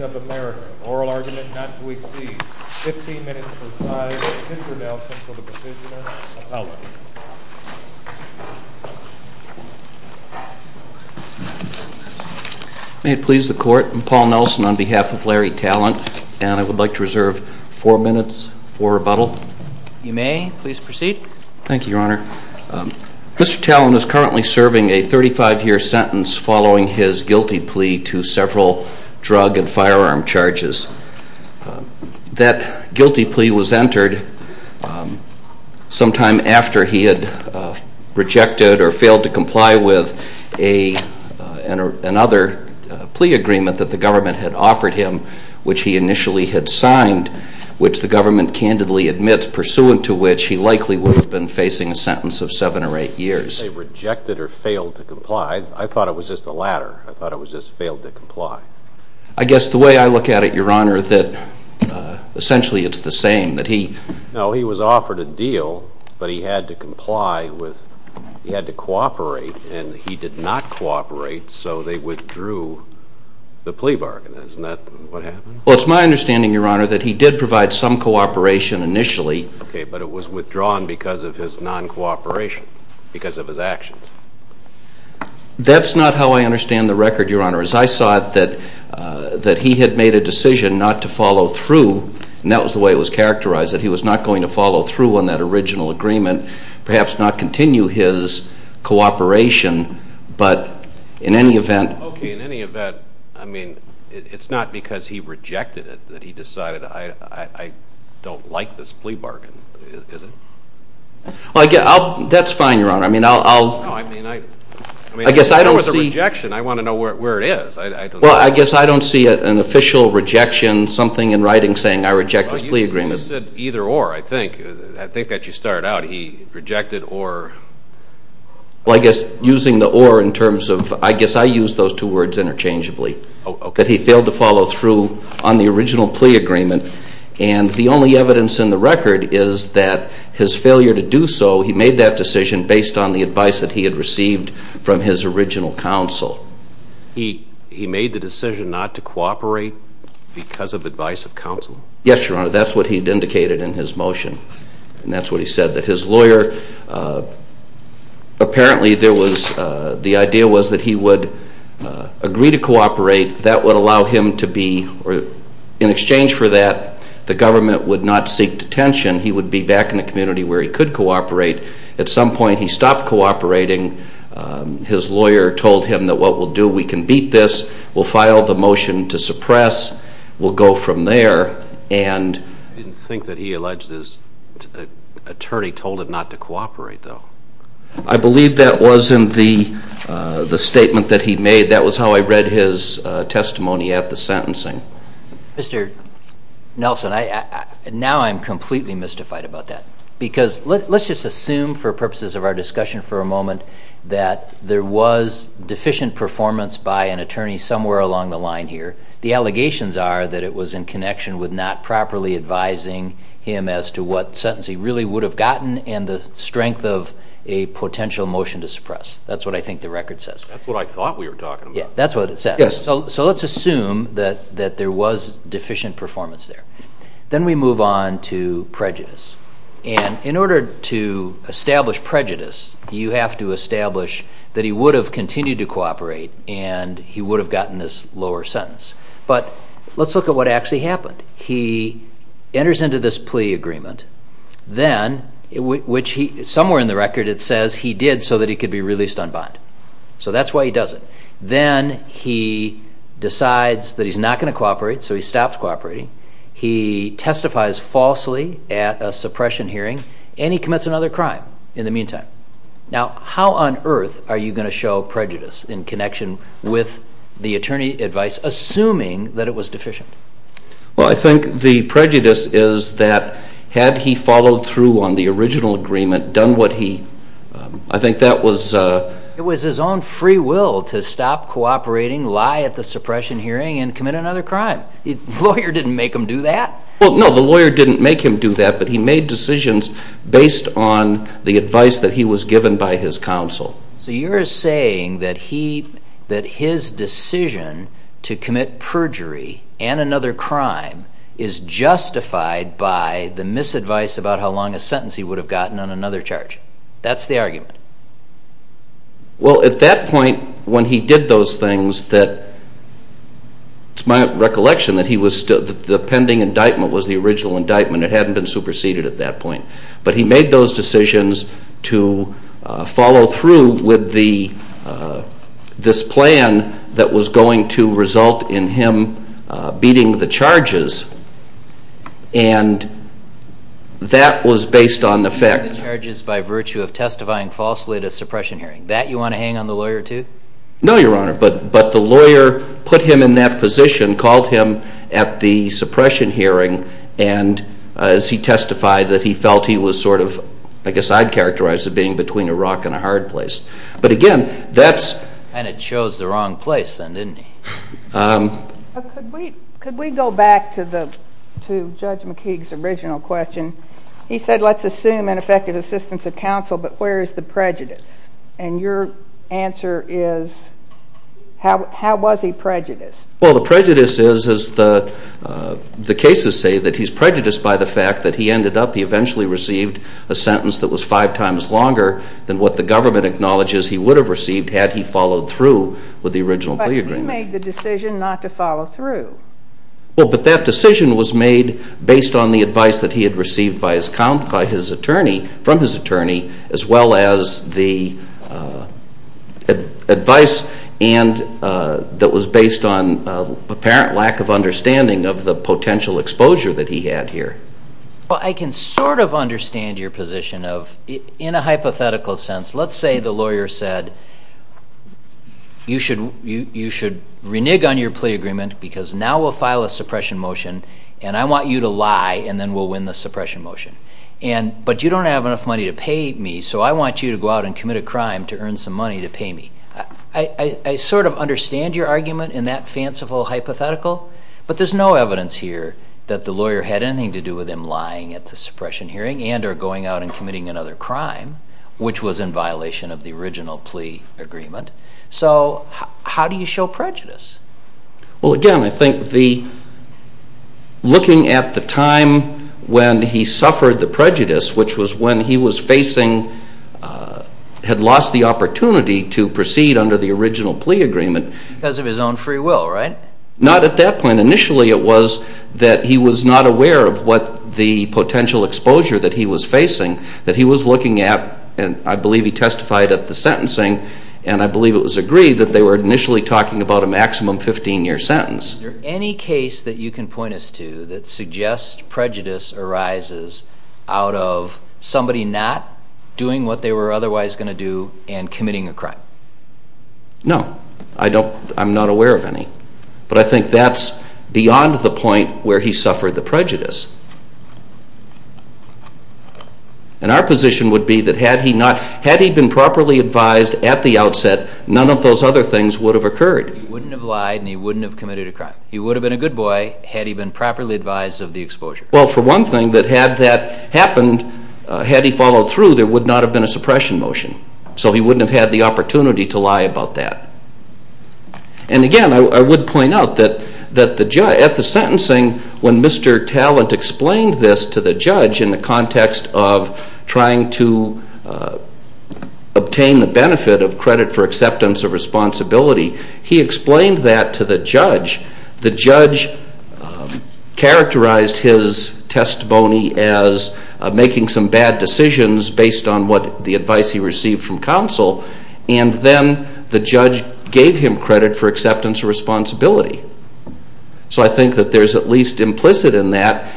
of America, Oral Argument Not to Exceed, 15 minutes per side. Mr. Nelson for the Procisioner. May it please the Court, I'm Paul Nelson on behalf of Larry Tallent and I would like to proceed. Thank you, Your Honor. Mr. Tallent is currently serving a 35-year sentence following his guilty plea to several drug and firearm charges. That guilty plea was entered sometime after he had rejected or failed to comply with another plea agreement that the government had offered him, which he initially had signed, which the government candidly admits, pursuant to which he likely would have been facing a sentence of 7 or 8 years. They rejected or failed to comply. I thought it was just the latter. I thought it was just failed to comply. I guess the way I look at it, Your Honor, that essentially it's the same. That he... No, he was offered a deal, but he had to comply with, he had to cooperate and he did not cooperate, so they withdrew the plea bargain. Isn't that what happened? Well, it's my understanding, Your Honor, that he did provide some cooperation initially. Okay, but it was withdrawn because of his non-cooperation, because of his actions. That's not how I understand the record, Your Honor. As I saw it, that he had made a decision not to follow through, and that was the way it was characterized, that he was not going to follow through on that original agreement, perhaps not continue his cooperation, but in any event... Okay, in any event, I mean, it's not because he rejected it that he decided, I don't like this plea bargain, is it? That's fine, Your Honor. I mean, I'll... No, I mean, I... I guess I don't see... If there was a rejection, I want to know where it is. I don't know. Well, I guess I don't see an official rejection, something in writing saying, I reject this plea agreement. You said either or, I think. I think that you started out, he rejected or... Well, I guess using the or in terms of... I guess I used those two words interchangeably. Oh, okay. That he failed to follow through on the original plea agreement, and the only evidence in the record is that his failure to do so, he made that decision based on the advice that he had received from his original counsel. He made the decision not to cooperate because of advice of counsel? Yes, Your Honor, that's what he had indicated in his motion, and that's what he said, that his lawyer... Apparently, there was... The idea was that he would agree to cooperate. That would allow him to be... In exchange for that, the government would not seek detention. He would be back in the community where he could cooperate. At some point, he stopped cooperating. His lawyer told him that what we'll do, we can beat this. We'll file the motion to suppress. We'll go from there, and... I didn't think that he alleged his attorney told him not to cooperate, though. I believe that was in the statement that he made. That was how I read his testimony at the sentencing. Mr. Nelson, now I'm completely mystified about that because let's just assume for purposes of our discussion for a moment that there was deficient performance by an attorney somewhere along the line here. The allegations are that it was in connection with not properly advising him as to what sentence he really would have gotten and the strength of a potential motion to suppress. That's what I think the record says. That's what I thought we were talking about. Yeah, that's what it says. Yes. So let's assume that there was deficient performance there. Then we move on to prejudice, and in order to establish prejudice, you have to cooperate, and he would have gotten this lower sentence. But let's look at what actually happened. He enters into this plea agreement, then, which somewhere in the record it says he did so that he could be released unbind. So that's why he does it. Then he decides that he's not going to cooperate, so he stops cooperating. He testifies falsely at a suppression hearing, and he commits another crime in the meantime. Now, how on earth are you going to show prejudice in connection with the attorney advice, assuming that it was deficient? Well, I think the prejudice is that had he followed through on the original agreement, done what he... I think that was... It was his own free will to stop cooperating, lie at the suppression hearing, and commit another crime. The lawyer didn't make him do that. Well, no, the advice that he was given by his counsel. So you're saying that he... that his decision to commit perjury and another crime is justified by the misadvice about how long a sentence he would have gotten on another charge. That's the argument. Well, at that point, when he did those things that... It's my recollection that he was... The pending indictment was the original indictment. It hadn't been superseded at that point. But he made those decisions to follow through with this plan that was going to result in him beating the charges, and that was based on the fact... Beating the charges by virtue of testifying falsely at a suppression hearing. That you want to hang on the lawyer to? No, Your Honor, but the lawyer put him in that position, called him at the suppression hearing, and as he testified, that he felt he was sort of... I guess I'd characterize it as being between a rock and a hard place. But again, that's... And it chose the wrong place then, didn't it? Could we go back to Judge McKeague's original question? He said, let's assume ineffective assistance of counsel, but where is the prejudice? And your answer is, how was he prejudiced? Well, the prejudice is, as the cases say, that he's prejudiced by the fact that he ended up... He eventually received a sentence that was five times longer than what the government acknowledges he would have received had he followed through with the original plea agreement. But he made the decision not to follow through. Well, but that decision was made based on the advice that he had as well as the advice that was based on apparent lack of understanding of the potential exposure that he had here. Well, I can sort of understand your position of, in a hypothetical sense, let's say the lawyer said, you should renege on your plea agreement because now we'll file a suppression motion and I want you to lie and then we'll win the suppression motion. But you don't have enough money to pay me, so I want you to go out and commit a crime to earn some money to pay me. I sort of understand your argument in that fanciful hypothetical, but there's no evidence here that the lawyer had anything to do with him lying at the suppression hearing and or going out and committing another crime, which was in violation of the original plea agreement. So how do you show prejudice? Well, again, I think the looking at the time when he suffered the prejudice, which was when he was facing, had lost the opportunity to proceed under the original plea agreement. Because of his own free will, right? Not at that point. Initially, it was that he was not aware of what the potential exposure that he was facing, that he was looking at, and I believe he testified at the sentencing, and I believe it was agreed that they were initially talking about a maximum 15-year sentence. Is there any case that you can point us to that suggests prejudice arises out of somebody not doing what they were otherwise going to do and committing a crime? No. I don't, I'm not aware of any. But I think that's beyond the point where he suffered the prejudice. And our position would be that had he not, had he been properly advised at the outset, none of those other things would have occurred. He wouldn't have lied and he wouldn't have committed a crime. He would have been a good boy had he been properly advised of the exposure. Well, for one thing, that had that happened, had he followed through, there would not have been a suppression motion. So he wouldn't have had the opportunity to lie about that. And again, I would point out that at the sentencing, when Mr. Talent explained this to the judge in the context of trying to obtain the benefit of credit for acceptance of responsibility, he explained that to the judge. The judge characterized his And then the judge gave him credit for acceptance of responsibility. So I think that there's at least implicit in that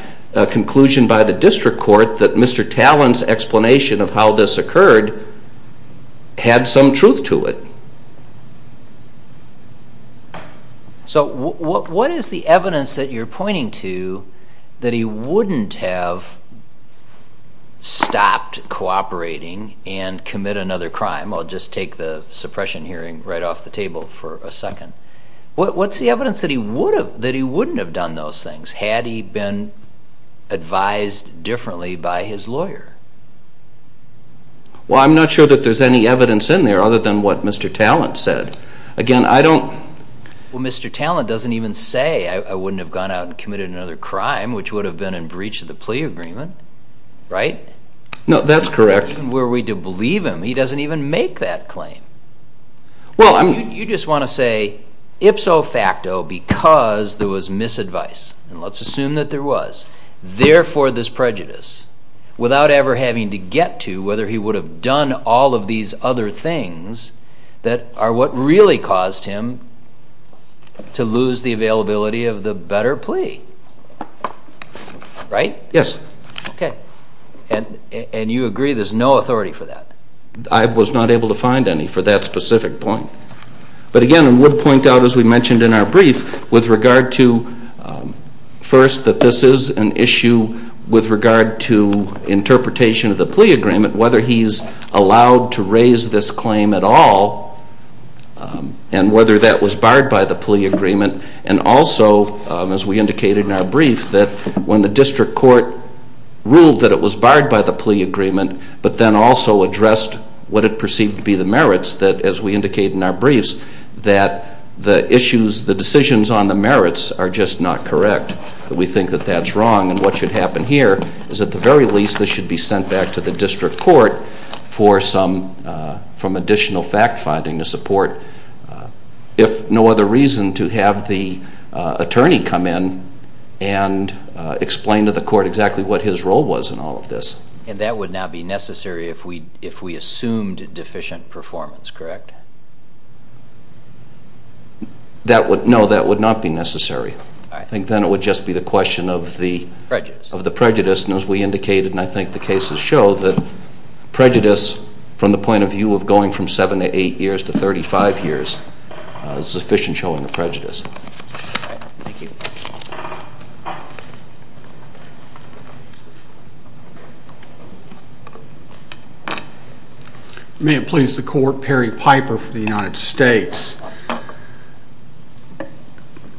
conclusion by the district court that Mr. Talent's explanation of how this occurred had some truth to it. So what is the evidence that you're pointing to that he wouldn't have stopped cooperating and commit another crime? I'll just take the suppression hearing right off the table for a second. What's the evidence that he wouldn't have done those things had he been advised differently by his lawyer? Well, I'm not sure that there's any evidence in there other than what Mr. Talent said. Again, I don't... Well, Mr. Talent doesn't even say, I wouldn't have gone out and committed another crime, which would have been in breach of the plea agreement, right? No, that's correct. Even were we to believe him, he doesn't even make that claim. You just want to say, ipso facto, because there was misadvice, and let's assume that there was, therefore this prejudice, without ever having to get to whether he would have done all of these other things that are what really caused him to lose the availability of the better plea, right? Yes. Okay. And you agree there's no authority for that? I was not able to find any for that specific point. But again, I would point out, as we mentioned in our brief, with regard to, first, that this is an issue with regard to interpretation of the plea agreement, whether he's allowed to raise this claim at all, and whether that was barred by the plea agreement, and also, as we indicated in our brief, that when the district court ruled that it was barred by the plea agreement, but then also addressed what it perceived to be the merits, that, as we indicated in our briefs, that the issues, the decisions on the merits are just not correct. We think that that's wrong, and what should happen here is, at the very least, this should be sent back to the district court for some additional fact-finding to support, if no other reason, to have the attorney come in and explain to the court exactly what his role was in all of this. And that would not be necessary if we assumed deficient performance, correct? No, that would not be necessary. All right. I think then it would just be the question of the prejudice, and as we indicated, and I think the cases show, that prejudice, from the point of view of going from 7 to 8 years to 35 years, is sufficient showing of prejudice. All right. Thank you. Thank you. May it please the court, Perry Piper for the United States.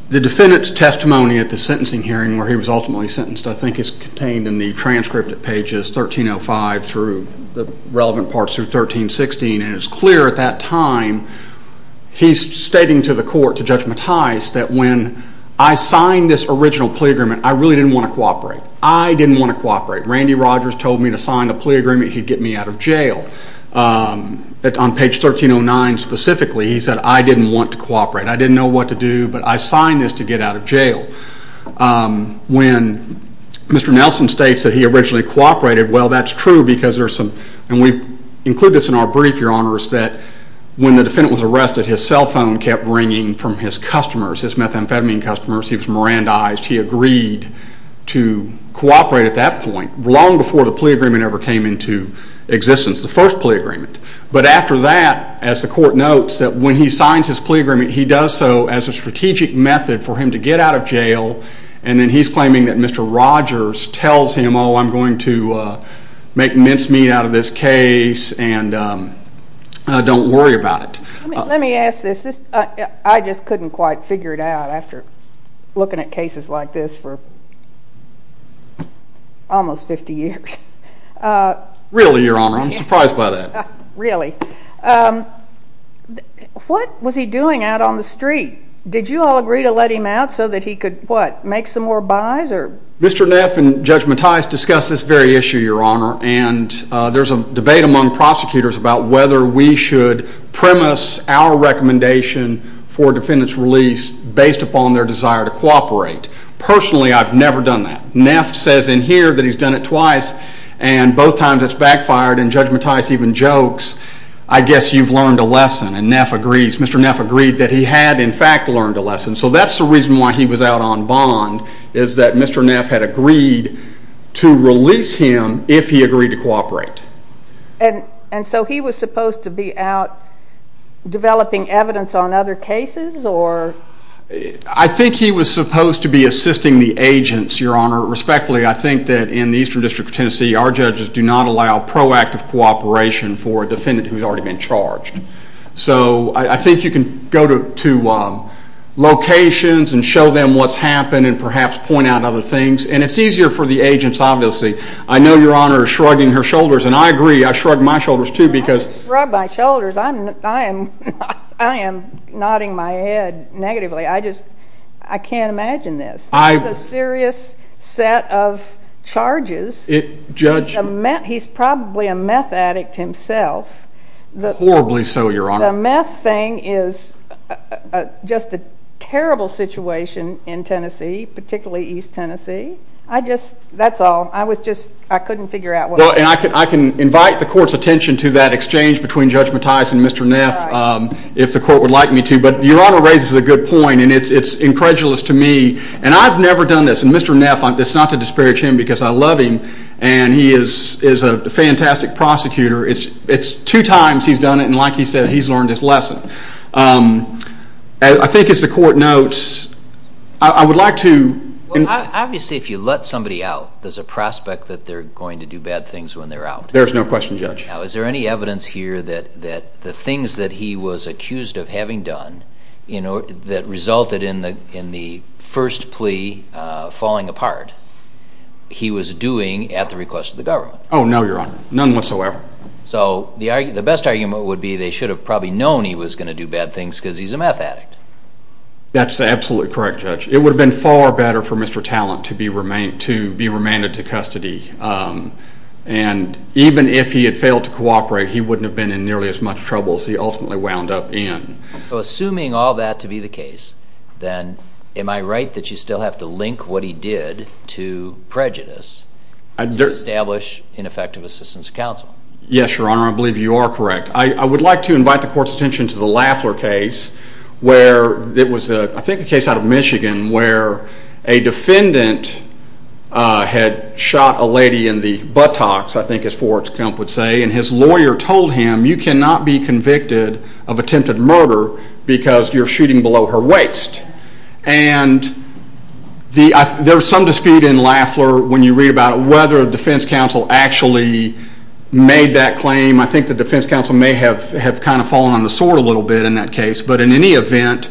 The defendant's testimony at the sentencing hearing where he was ultimately sentenced, I think, is contained in the transcript at pages 1305 through the relevant parts through 1316, and it's clear at that time he's stating to the court, to Judge Mattis, that when I signed this original plea agreement, I really didn't want to cooperate. I didn't want to cooperate. Randy Rogers told me to sign the plea agreement, he'd get me out of jail. On page 1309 specifically, he said, I didn't want to cooperate. I didn't know what to do, but I signed this to get out of jail. When Mr. Nelson states that he originally cooperated, well, that's true because there's some, and we've included this in our brief, your honors, that when the defendant was arrested, his cell phone kept ringing from his customers, his methamphetamine customers. He was Mirandized. He agreed to cooperate at that point, long before the plea agreement ever came into existence, the first plea agreement. But after that, as the court notes, that when he signs his plea agreement, he does so as a strategic method for him to get out of jail, and then he's claiming that Mr. Rogers tells him, oh, I'm going to make mincemeat out of this case, and don't worry about it. Let me ask this. I just couldn't quite figure it out after looking at cases like this for almost 50 years. Really, your honor. I'm surprised by that. Really. What was he doing out on the street? Did you all agree to let him out so that he could, what, make some more buys? Mr. Neff and Judge Mattias discussed this very issue, your honor, and there's a debate among prosecutors about whether we should premise our recommendation for a defendant's release based upon their desire to cooperate. Personally, I've never done that. Neff says in here that he's done it twice, and both times it's backfired, and Judge Mattias even jokes, I guess you've learned a lesson, and Neff agrees. Mr. Neff agreed that he had, in fact, learned a lesson. So that's the reason why he was out on bond, is that Mr. Neff had agreed to release him if he agreed to cooperate. And so he was supposed to be out developing evidence on other cases, or? I think he was supposed to be assisting the agents, your honor, respectfully. I think that in the Eastern District of Tennessee, our judges do not allow proactive cooperation for a defendant who's already been charged. So I think you can go to locations and show them what's happened and perhaps point out other things, and it's easier for the agents, obviously. I know your honor is shrugging her shoulders, and I agree. I shrug my shoulders, too, because. I didn't shrug my shoulders. I am nodding my head negatively. I just, I can't imagine this. This is a serious set of charges. Judge. He's probably a meth addict himself. Horribly so, your honor. The meth thing is just a terrible situation in Tennessee, particularly East Tennessee. I just, that's all. I was just, I couldn't figure out what. I can invite the court's attention to that exchange between Judge Mattias and Mr. Neff if the court would like me to, but your honor raises a good point, and it's incredulous to me. And I've never done this, and Mr. Neff, it's not to disparage him because I love him, and he is a fantastic prosecutor. It's two times he's done it, and like he said, he's learned his lesson. I think as the court notes, I would like to. Obviously, if you let somebody out, there's a prospect that they're going to do bad things when they're out. There's no question, Judge. Now, is there any evidence here that the things that he was accused of having done, you know, that resulted in the first plea falling apart, he was doing at the request of the government? Oh, no, your honor. None whatsoever. So, the best argument would be they should have probably known he was going to do bad things because he's a meth addict. That's absolutely correct, Judge. It would have been far better for Mr. Talent to be remanded to custody, and even if he had failed to cooperate, he wouldn't have been in nearly as much trouble as he ultimately wound up in. So, assuming all that to be the case, then am I right that you still have to link what he did to prejudice to establish ineffective assistance of counsel? Yes, your honor. I believe you are correct. I would like to invite the court's attention to the Lafler case where it was, I think, a case out of Michigan where a defendant had shot a lady in the buttocks, I think as Forrest Gump would say, and his lawyer told him, you cannot be convicted of attempted murder because you're shooting below her waist. And there was some dispute in Lafler when you read about whether a defense counsel actually made that claim. I think the defense counsel may have kind of fallen on the sword a little bit in that case. But in any event,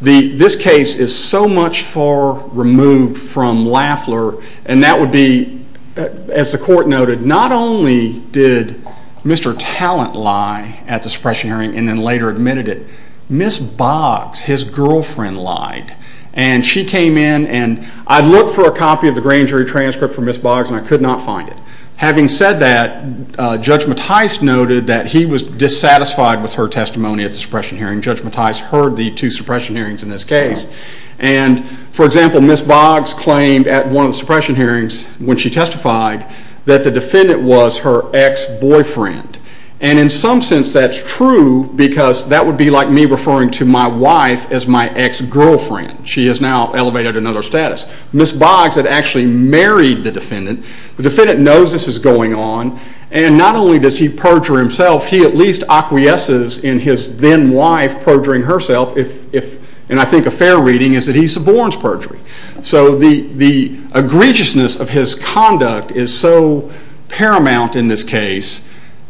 this case is so much far removed from Lafler, and that would be, as the court noted, not only did Mr. Talent lie at the suppression hearing and then later admitted it, Ms. Boggs, his girlfriend, lied. And she came in, and I looked for a copy of the grand jury transcript for Ms. Boggs, and I could not find it. Having said that, Judge Mattis noted that he was dissatisfied with her testimony at the suppression hearing. Judge Mattis heard the two suppression hearings in this case. And, for example, Ms. Boggs claimed at one of the suppression hearings when she testified that the defendant was her ex-boyfriend. And in some sense, that's true, because that would be like me referring to my wife as my ex-girlfriend. She is now elevated to another status. Ms. Boggs had actually married the defendant. The defendant knows this is going on, and not only does he perjure himself, he at least acquiesces in his then-wife perjuring herself, and I think a fair reading is that he suborns perjury. So the egregiousness of his conduct is so paramount in this case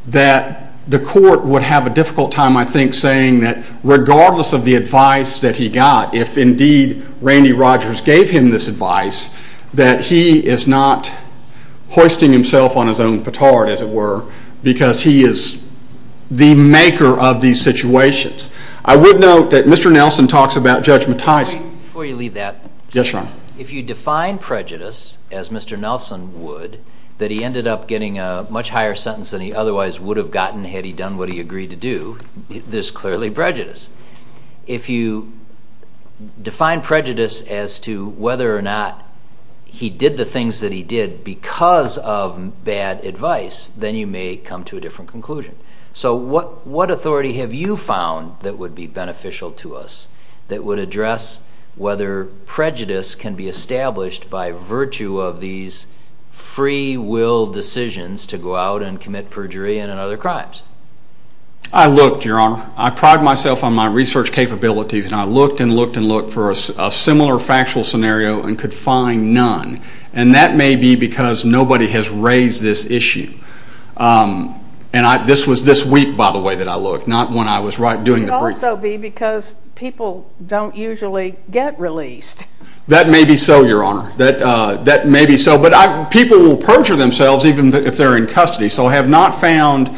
that the court would have a difficult time, I think, saying that regardless of the advice that he got, if indeed Randy Rogers gave him this advice, that he is not hoisting himself on his own petard, as it were, because he is the maker of these situations. I would note that Mr. Nelson talks about judgmentizing. Before you leave that... Yes, sir. If you define prejudice, as Mr. Nelson would, that he ended up getting a much higher sentence than he otherwise would have gotten had he done what he agreed to do, there's clearly prejudice. If you define prejudice as to whether or not he did the things that he did because of bad advice, then you may come to a different conclusion. So what authority have you found that would be beneficial to us, that would address whether prejudice can be established by virtue of these free-will decisions to go out and commit perjury and other crimes? I looked, Your Honor. I prided myself on my research capabilities, and I looked and looked and looked for a similar factual scenario and could find none, and that may be because nobody has raised this issue. And this was this week, by the way, that I looked, not when I was doing the briefing. It could also be because people don't usually get released. That may be so, Your Honor. That may be so, but people will perjure themselves even if they're in custody, so I have not found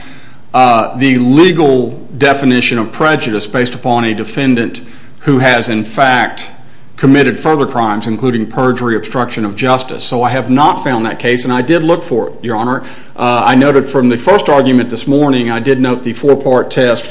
the legal definition of prejudice based upon a defendant who has, in fact, committed further crimes, including perjury, obstruction of justice. So I have not found that case, and I did look for it, Your Honor. I noted from the first argument this morning, I did note the four-part test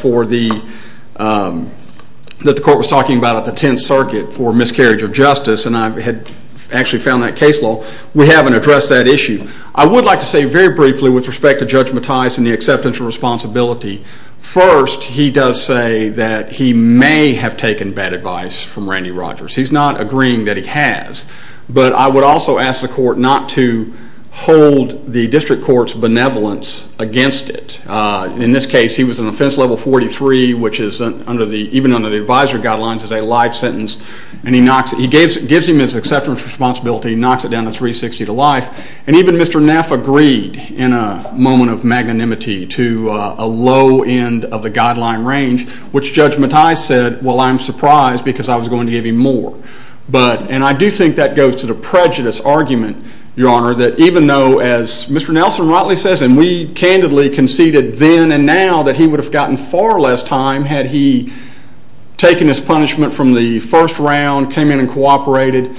that the court was talking about at the Tenth Circuit for miscarriage of justice, and I had actually found that case law. We haven't addressed that issue. I would like to say very briefly with respect to Judge Mattias and the acceptance of responsibility, first, he does say that he may have taken bad advice from Randy Rogers. He's not agreeing that he has, but I would also ask the court not to hold the district court's benevolence against it. In this case, he was an offense level 43, which is even under the advisory guidelines is a life sentence, and he gives him his acceptance of responsibility, knocks it down to 360 to life, and even Mr. Neff agreed in a moment of magnanimity to a low end of the guideline range, which Judge Mattias said, well, I'm surprised because I was going to give him more, and I do think that goes to the prejudice argument, Your Honor, that even though, as Mr. Nelson-Rotley says, and we candidly conceded then and now that he would have gotten far less time had he taken his punishment from the first round, came in and cooperated,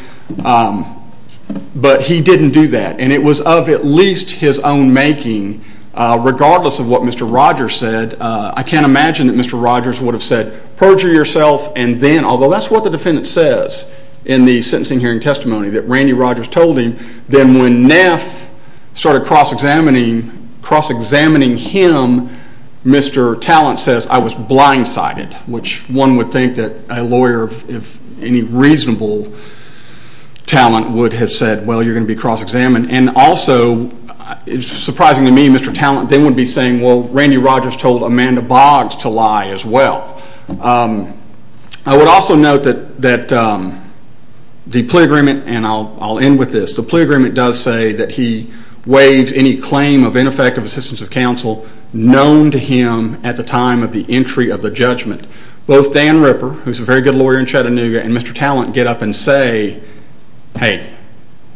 but he didn't do that, and it was of at least his own making, regardless of what Mr. Rogers said. I can't imagine that Mr. Rogers would have said, perjure yourself, and then, although that's what the defendant says in the sentencing hearing testimony that Randy Rogers told him, then when Neff started cross-examining him, Mr. Talent says, I was blindsided, which one would think that a lawyer, if any reasonable talent, would have said, well, you're going to be cross-examined, and also, surprisingly to me, Mr. Talent then would be saying, well, Randy Rogers told Amanda Boggs to lie as well. I would also note that the plea agreement, and I'll end with this, the plea agreement does say that he waived any claim of ineffective assistance of counsel known to him at the time of the entry of the judgment. Both Dan Ripper, who's a very good lawyer in Chattanooga, and Mr. Talent get up and say, hey,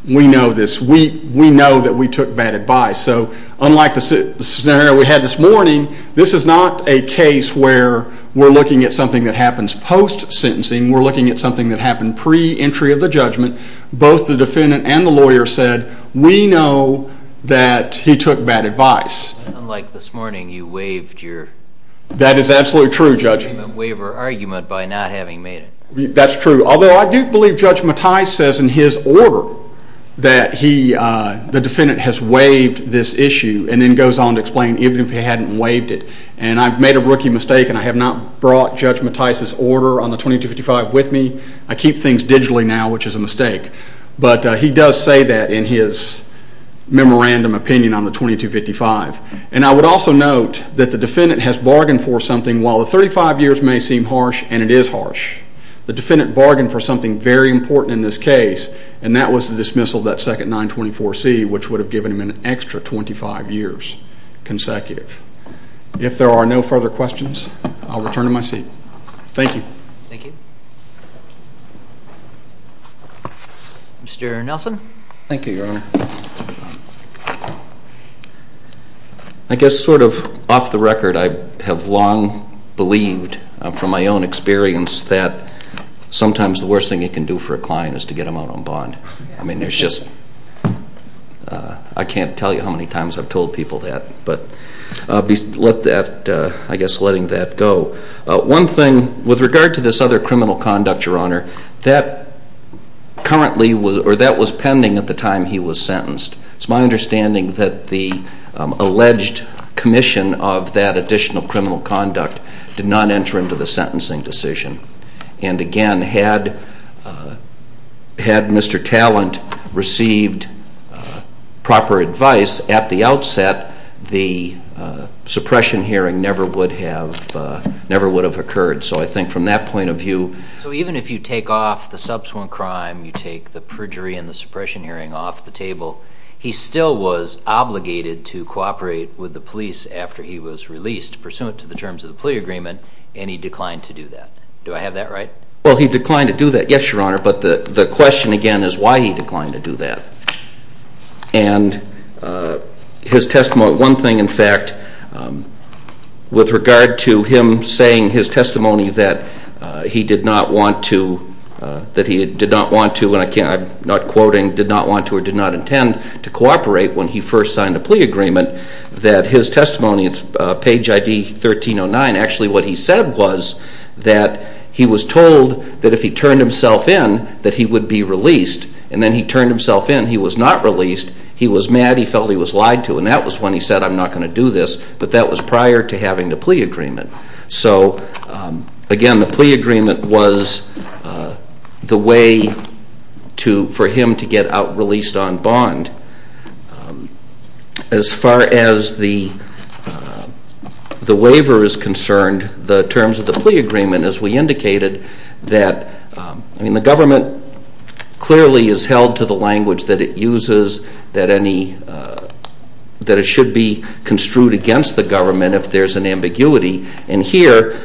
we know this. We know that we took bad advice. So, unlike the scenario we had this morning, this is not a case where we're looking at something that happens post-sentencing. We're looking at something that happened pre-entry of the judgment. Both the defendant and the lawyer said, we know that he took bad advice. Unlike this morning, you waived your… That is absolutely true, Judge. …waiver argument by not having made it. That's true, although I do believe Judge Mattis says in his order that the defendant has waived this issue and then goes on to explain even if he hadn't waived it. And I've made a rookie mistake and I have not brought Judge Mattis' order on the 2255 with me. I keep things digitally now, which is a mistake. But he does say that in his memorandum opinion on the 2255. And I would also note that the defendant has bargained for something while the 35 years may seem harsh, and it is harsh. The defendant bargained for something very important in this case, and that was the dismissal of that second 924C, which would have given him an extra 25 years consecutive. If there are no further questions, I'll return to my seat. Thank you. Thank you. Mr. Nelson. Thank you, Your Honor. I guess sort of off the record, I have long believed from my own experience that sometimes the worst thing you can do for a client is to get them out on bond. I mean, there's just… I can't tell you how many times I've told people that. But I'll be, I guess, letting that go. One thing, with regard to this other criminal conduct, Your Honor, that currently, or that was pending at the time he was sentenced. It's my understanding that the alleged commission of that additional criminal conduct did not enter into the sentencing decision. And again, had Mr. Talent received proper advice at the outset, the suppression hearing never would have occurred. So I think from that point of view… …to take the perjury and the suppression hearing off the table, he still was obligated to cooperate with the police after he was released, pursuant to the terms of the plea agreement, and he declined to do that. Do I have that right? Well, he declined to do that, yes, Your Honor. But the question, again, is why he declined to do that. And his testimony, one thing, in fact, with regard to him saying his testimony that he did not want to… …that he did not want to, and I'm not quoting, did not want to or did not intend to cooperate when he first signed the plea agreement, that his testimony, page ID 1309, actually what he said was that he was told that if he turned himself in, that he would be released. And then he turned himself in. He was not released. He was mad. He felt he was lied to. And that was when he said, I'm not going to do this. But that was prior to having the plea agreement. So, again, the plea agreement was the way for him to get out, released on bond. As far as the waiver is concerned, the terms of the plea agreement, as we indicated, that, I mean, the government clearly is held to the language that it uses, that any, that it should be construed against the government if there's an ambiguity. And here,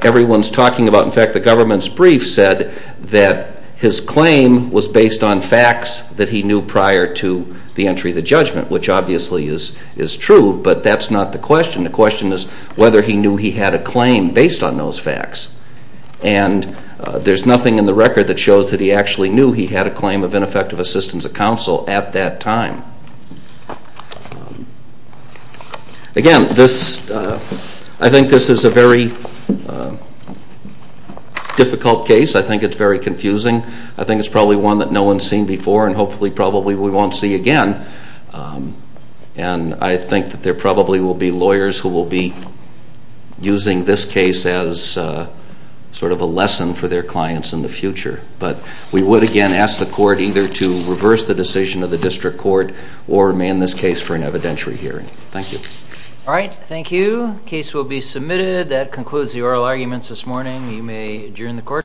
everyone's talking about, in fact, the government's brief said that his claim was based on facts that he knew prior to the entry of the judgment, which obviously is true, but that's not the question. The question is whether he knew he had a claim based on those facts. And there's nothing in the record that shows that he actually knew he had a claim of ineffective assistance of counsel at that time. Again, this, I think this is a very difficult case. I think it's very confusing. I think it's probably one that no one's seen before and hopefully probably we won't see again. And I think that there probably will be lawyers who will be using this case as sort of a lesson for their clients in the future. But we would, again, ask the court either to reverse the decision of the district court or man this case for an evidentiary hearing. Thank you. All right, thank you. Case will be submitted. That concludes the oral arguments this morning. You may adjourn the court.